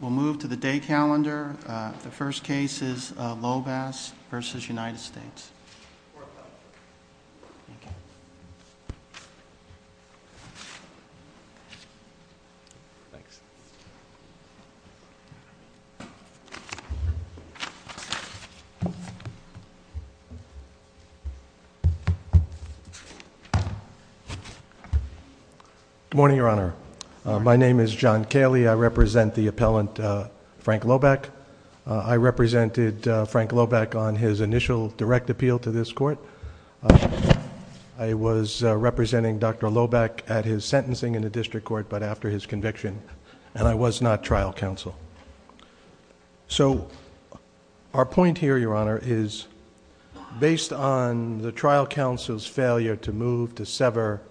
We'll move to the day calendar. The first case is Lobasz v. United States. Good morning, Your Honor. My name is John Cayley. I represent the appellant Frank Lobach. I represented Frank Lobach on his initial direct appeal to this court. I was representing Dr. Lobach at his sentencing in the district court, but after his conviction, and I was not trial counsel. So our point here, Your Honor, is based on the trial counsel's failure to move to sever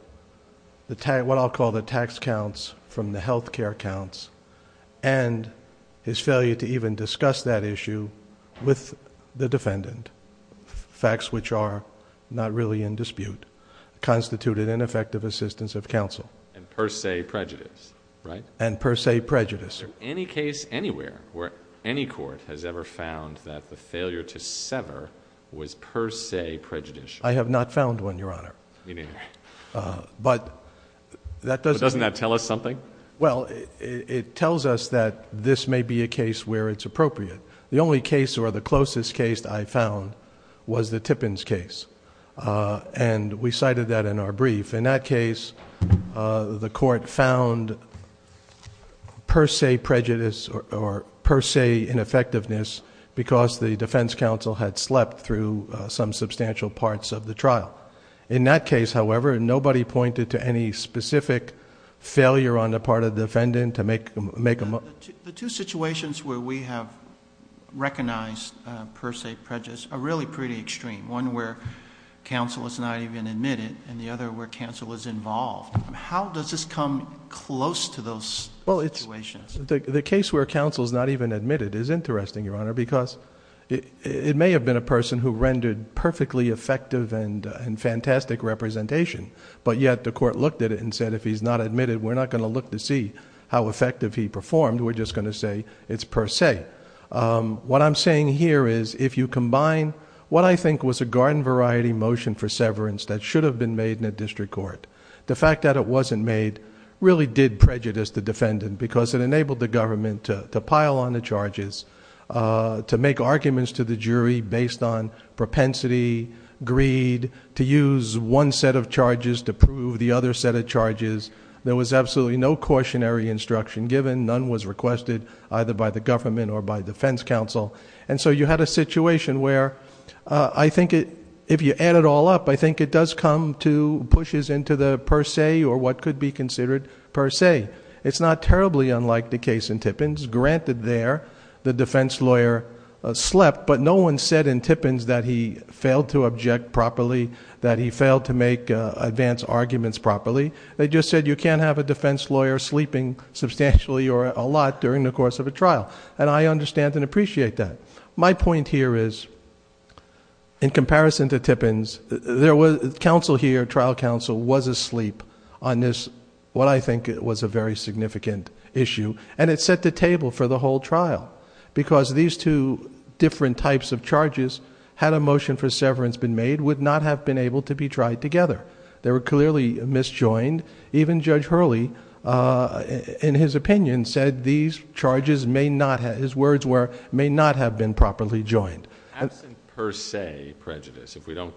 what I'll call the tax counts from the health care counts and his failure to even discuss that issue with the defendant, facts which are not really in dispute, constituted ineffective assistance of counsel. And per se prejudice, right? And per se prejudice. Is there any case anywhere where any court has ever found that the failure to sever was per se prejudicial? I have not found one, Your Honor. But that doesn't... But doesn't it's appropriate. The only case or the closest case I found was the Tippins case. And we cited that in our brief. In that case, the court found per se prejudice or per se ineffectiveness because the defense counsel had slept through some substantial parts of the trial. In that case, however, nobody pointed to any specific failure on the part of the defendant to make The two situations where we have recognized per se prejudice are really pretty extreme. One where counsel is not even admitted and the other where counsel is involved. How does this come close to those situations? Well, it's... The case where counsel is not even admitted is interesting, Your Honor, because it may have been a person who rendered perfectly effective and fantastic representation, but yet the court looked at it and said, if he's not admitted, we're not going to look to see how effective he performed. We're just going to say it's per se. What I'm saying here is if you combine what I think was a garden variety motion for severance that should have been made in a district court, the fact that it wasn't made really did prejudice the defendant because it enabled the government to pile on the charges, to make arguments to the jury based on propensity, greed, to use one set of charges to prove the other set of charges. There was absolutely no cautionary instruction given. None was requested either by the government or by defense counsel. You had a situation where I think if you add it all up, I think it does come to pushes into the per se or what could be considered per se. It's not terribly unlike the case in Tippins. Granted there, the defense lawyer slept, but no one said in Tippins that he failed to make advance arguments properly. They just said you can't have a defense lawyer sleeping substantially or a lot during the course of a trial. I understand and appreciate that. My point here is in comparison to Tippins, there was counsel here, trial counsel was asleep on this, what I think was a very significant issue. It set the table for the whole trial because these two different types of charges, had a motion for severance been made, would not have been able to be tried together. They were clearly misjoined. Even Judge Hurley in his opinion said these charges may not have... his words were may not have been properly joined. Absent per se prejudice, if we don't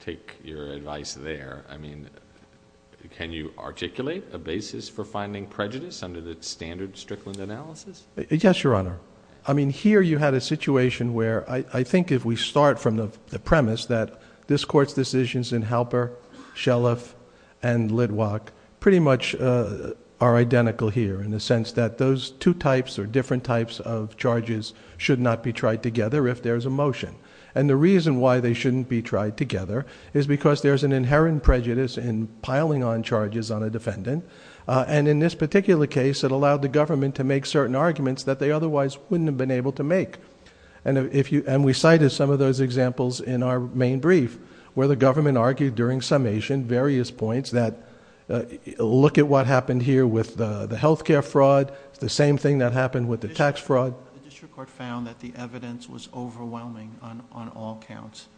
take your advice there, I mean can you articulate a basis for finding prejudice under the standard Strickland analysis? Yes, Your Honor. I mean here you had a situation where I think if we start from the premise that this court's decisions in Halper, Shelliff, and Litwack pretty much are identical here in the sense that those two types or different types of charges should not be tried together if there's a motion. The reason why they shouldn't be tried together is because there's an inherent prejudice in piling on charges on a defendant. In this particular case, it allowed the government to make certain arguments that they otherwise wouldn't have been able to make. We cited some of those examples in our main brief where the government argued during summation various points that look at what happened here with the healthcare fraud. It's the same thing that happened with the tax fraud. The district court found that the evidence was overwhelming on all counts.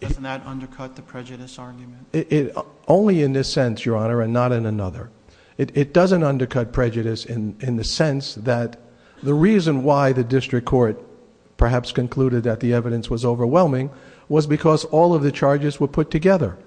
Doesn't that undercut the prejudice argument? Only in this sense, Your Honor, and not in another. It doesn't undercut prejudice in the sense that the reason why the district court perhaps concluded that the evidence was overwhelming was because all of the charges were put together.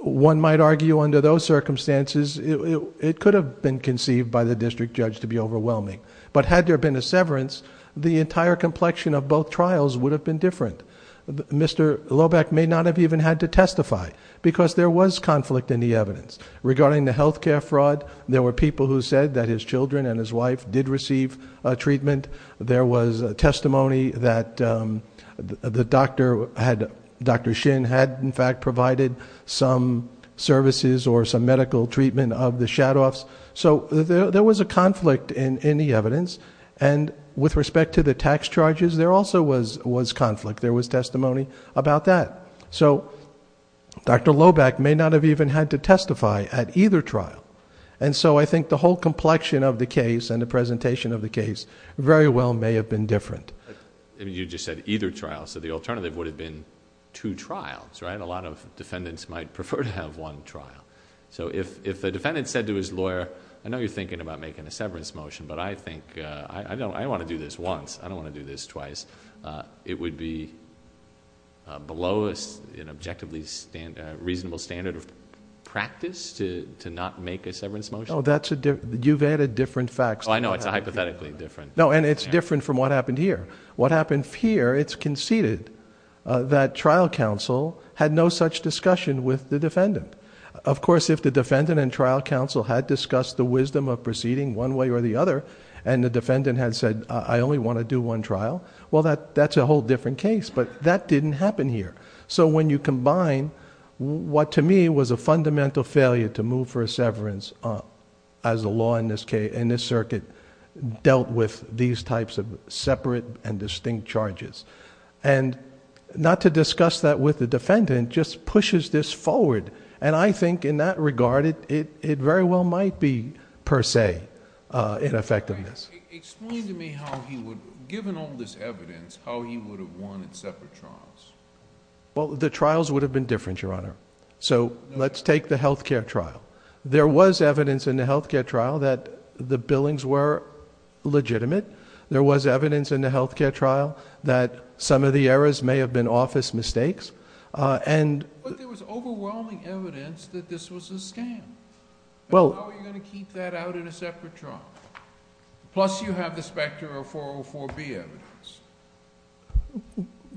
One might argue under those circumstances it could have been conceived by the district judge to be overwhelming. Had there been a severance, the entire complexion of both trials would have been different. Mr. Loback may not have even had to testify because there was conflict in the evidence regarding the healthcare fraud. There were people who said that his children and his wife did receive treatment. There was testimony that Dr. Shin had in fact provided some services or some medical treatment of the Shadoffs. There was a conflict in the evidence. With respect to the tax charges, there also was conflict. There was testimony about that. Dr. Loback may not have even had to testify at either trial. I think the whole complexion of the case and the presentation of the case very well may have been different. You just said either trial. The alternative would have been two trials. A lot of defendants might prefer to have one trial. If the defendant said to his lawyer, I know you're thinking about making a severance motion, but I want to do this once. I don't want to do this twice. It would be below an objectively reasonable standard of practice to not make a severance motion? You've added different facts. I know. It's hypothetically different. It's different from what happened here. What happened here, it's conceded that trial counsel had no such discussion with the defendant. Of course, if the defendant and trial counsel had discussed the wisdom of proceeding one way or the other, and the defendant had said, I only want to do one trial, well, that's a whole different case, but that didn't happen here. When you combine what to me was a fundamental failure to move for a severance as a law in this circuit dealt with these types of separate and distinct charges, and not to discuss that with the defendant just pushes this forward. I think in that regard, it very well might be per se an effect of this. Explain to me how he would, given all this evidence, how he would have won in separate trials? The trials would have been different, Your Honor. Let's take the health care trial. There was evidence in the health care trial that the billings were legitimate. There was evidence in the health care trial that some of the errors may have been office mistakes. But there was overwhelming evidence that this was a scam. How are you going to keep that out in a separate trial? Plus you have the specter of 404B evidence.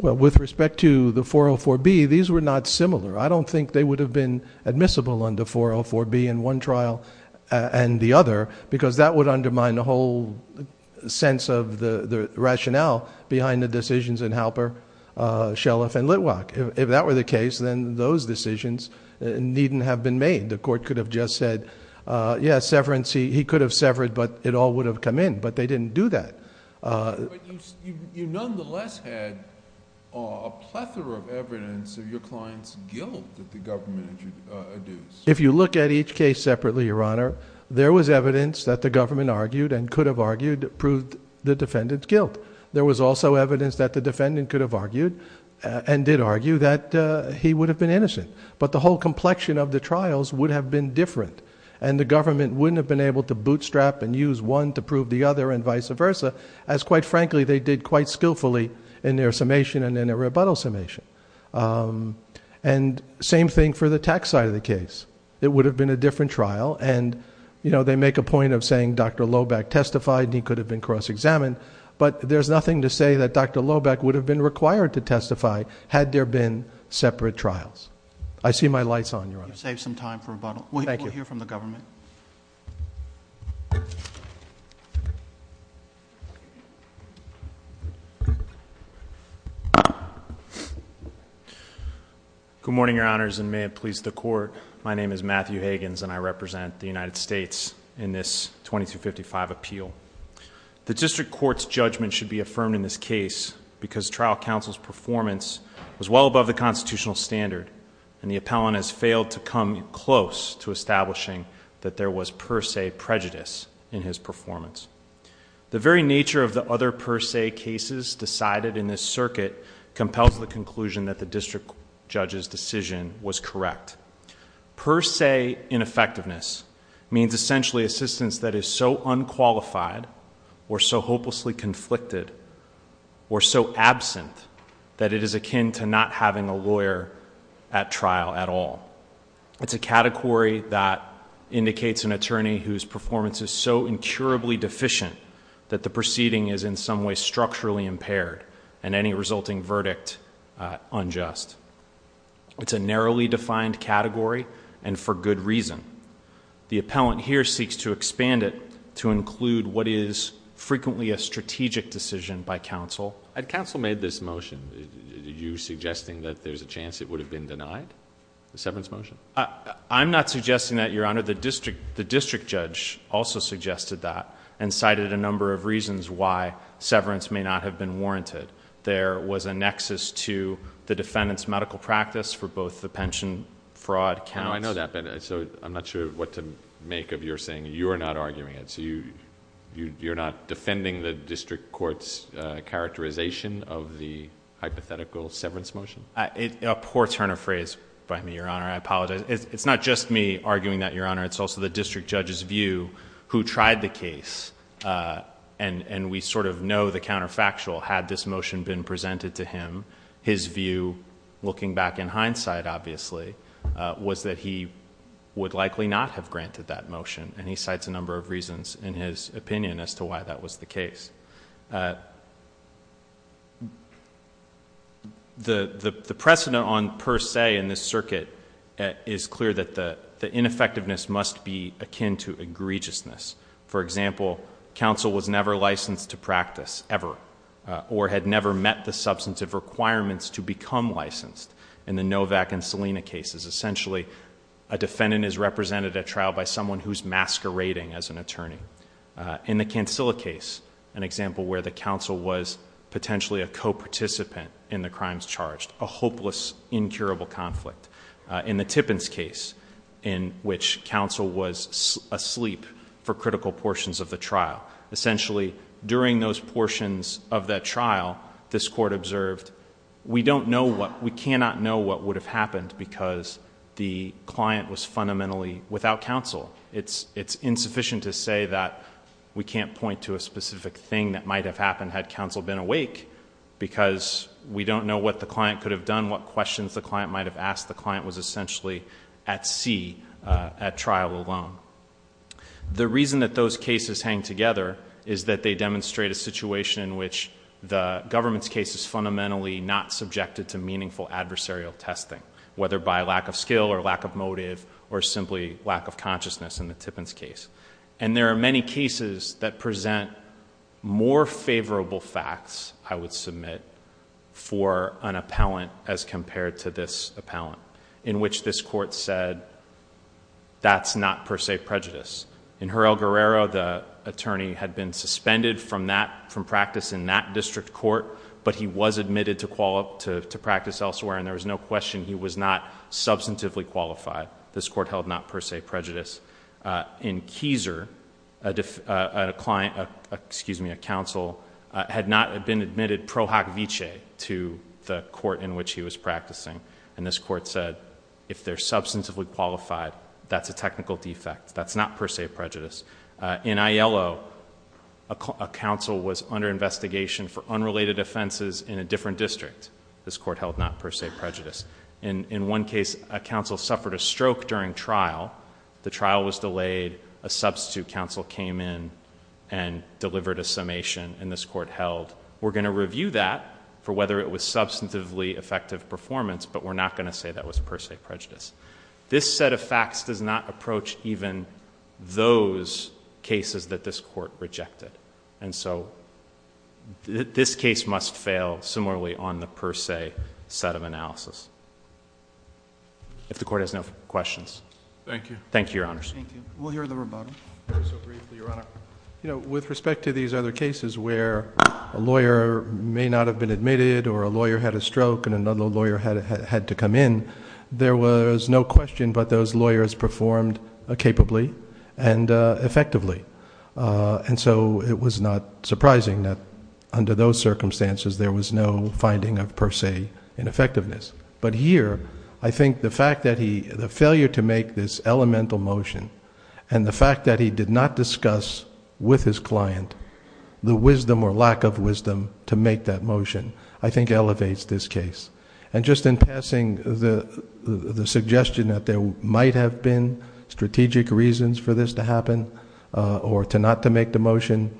With respect to the 404B, these were not similar. I don't think they would have been admissible under 404B in one trial and the other, because that would undermine the whole sense of the rationale behind the decisions in Halper, Shelliff, and Litwack. If that were the case, then those decisions needn't have been made. The court could have just said, yes, severance, he could have severed, but it all would have come in. But they didn't do that. But you nonetheless had a plethora of evidence of your client's guilt that the government had induced. If you look at each case separately, Your Honor, there was evidence that the government argued and could have argued proved the defendant's guilt. There was also evidence that the defendant could have argued and did argue that he would have been innocent. But the whole complexion of the trials would have been different, and the government wouldn't have been able to bootstrap and use one to prove the other and vice versa, as quite frankly they did quite skillfully in their summation and in their rebuttal summation. Same thing for the tax side of the case. It would have been a different trial. They make a point of saying Dr. Loback testified and he could have been cross-examined, but there's nothing to say that Dr. Loback would have been required to testify had there been separate trials. I see my lights on, Your Honor. You've saved some time for rebuttal. We'll hear from the government. Good morning, Your Honors, and may it please the Court. My name is Matthew Higgins and I represent the United States in this 2255 appeal. The district court's judgment should be affirmed in this case because trial counsel's performance was well above the constitutional standard and the appellant has failed to come close to establishing that there was per se prejudice in his performance. The very nature of the other per se cases decided in this circuit compels the conclusion that the district judge's decision was correct. Per se ineffectiveness means essentially assistance that is so unqualified or so hopelessly conflicted or so absent that it is akin to not having a lawyer at trial at all. It's a category that indicates an attorney whose performance is so incurably deficient that the proceeding is in some way structurally impaired and any resulting verdict unjust. It's a narrowly defined category and for good reason. The appellant here seeks to expand it to include what is frequently a strategic decision by counsel. Had counsel made this motion, are you suggesting that there's a chance it would have been denied, the severance motion? I'm not suggesting that, Your Honor. The district judge also suggested that and cited a number of reasons why severance may not have been warranted. There was a nexus to the defendant's medical practice for both the pension fraud counts. I know that, but I'm not sure what to make of your saying you're not arguing it. You're not defending the district court's characterization of the hypothetical severance motion? A poor turn of phrase by me, Your Honor. I apologize. It's not just me arguing that, Your Honor. It's also the district judge's view who tried the case and we know the counterfactual. Had this motion been presented to him, his view, looking back in hindsight, obviously, was that he would likely not have granted that motion and he cites a number of reasons in his opinion as to why that was the case. The precedent on per se in this circuit is clear that the ineffectiveness must be akin to egregiousness. For example, counsel was never licensed to practice, ever, or had never met the substantive requirements to become licensed in the Novak and Salina cases. Essentially, a defendant is represented at trial by someone who's masquerading as an attorney. In the Cancilla case, an example where the counsel was potentially a co-participant in the crimes charged, a hopeless, incurable conflict. In the Tippins case, in which counsel was asleep for critical portions of the trial. Essentially, during those portions of that trial, this court observed, we don't know what, we cannot know what would have happened because the client was fundamentally without counsel. It's insufficient to say that we can't point to a specific thing that might have happened had counsel been awake because we don't know what the client could have done, what questions the client might have asked. The client was The reason that those cases hang together is that they demonstrate a situation in which the government's case is fundamentally not subjected to meaningful adversarial testing, whether by lack of skill or lack of motive or simply lack of consciousness in the Tippins case. There are many cases that present more favorable facts, I would submit, for an appellant as compared to this appellant, in which this court said, that's not per se prejudice. In Jurel Guerrero, the attorney had been suspended from practice in that district court, but he was admitted to practice elsewhere and there was no question he was not substantively qualified. This court held not per se prejudice. In Kieser, a counsel had not been admitted pro hoc vicee to the court in which he was practicing, and this court said, if they're substantively qualified, that's a technical defect. That's not per se prejudice. In Aiello, a counsel was under investigation for unrelated offenses in a different district. This court held not per se prejudice. In one case, a counsel suffered a stroke during trial. The trial was delayed. A substitute counsel came in and delivered a summation, and this court held, we're going to review that for whether it was substantively effective performance, but we're not going to say that was per se prejudice. This set of facts does not approach even those cases that this court rejected. And so, this case must fail similarly on the per se set of analysis. If the court has no questions. Thank you. Thank you, Your Honors. We'll hear the rebuttal. Very so briefly, Your Honor. You know, with respect to these other cases where a lawyer may not have been admitted or a lawyer had a stroke and another lawyer had to come in, there was no question but those lawyers performed capably and effectively. And so, it was not surprising that under those circumstances, there was no finding of per se ineffectiveness. But here, I think the fact that he... the failure to make this elemental motion and the fact that he did not discuss with his client the wisdom or lack of wisdom to make that motion, I think, elevates this case. And just in passing the suggestion that there might have been strategic reasons for this to happen or to not to make the motion,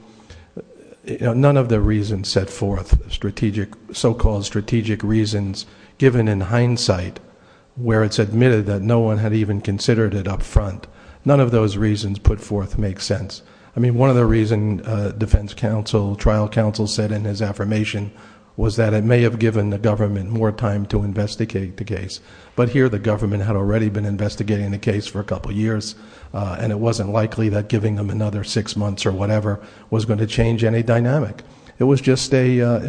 none of the reasons set forth strategic... so called strategic reasons given in hindsight where it's admitted that no one had even considered it up front, none of those reasons put forth make sense. I mean, one of the reasons defense counsel, trial counsel said in his affirmation was that it may have given the government more time to investigate the case. But here, the government had already been investigating the case for a couple years and it wasn't likely that giving them another six months or whatever was going to change any dynamic. It was just a...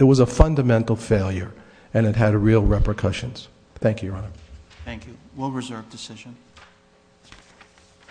it was a fundamental failure and it had real repercussions. Thank you, Your Honor. Thank you. Thank you. We'll reserve decision.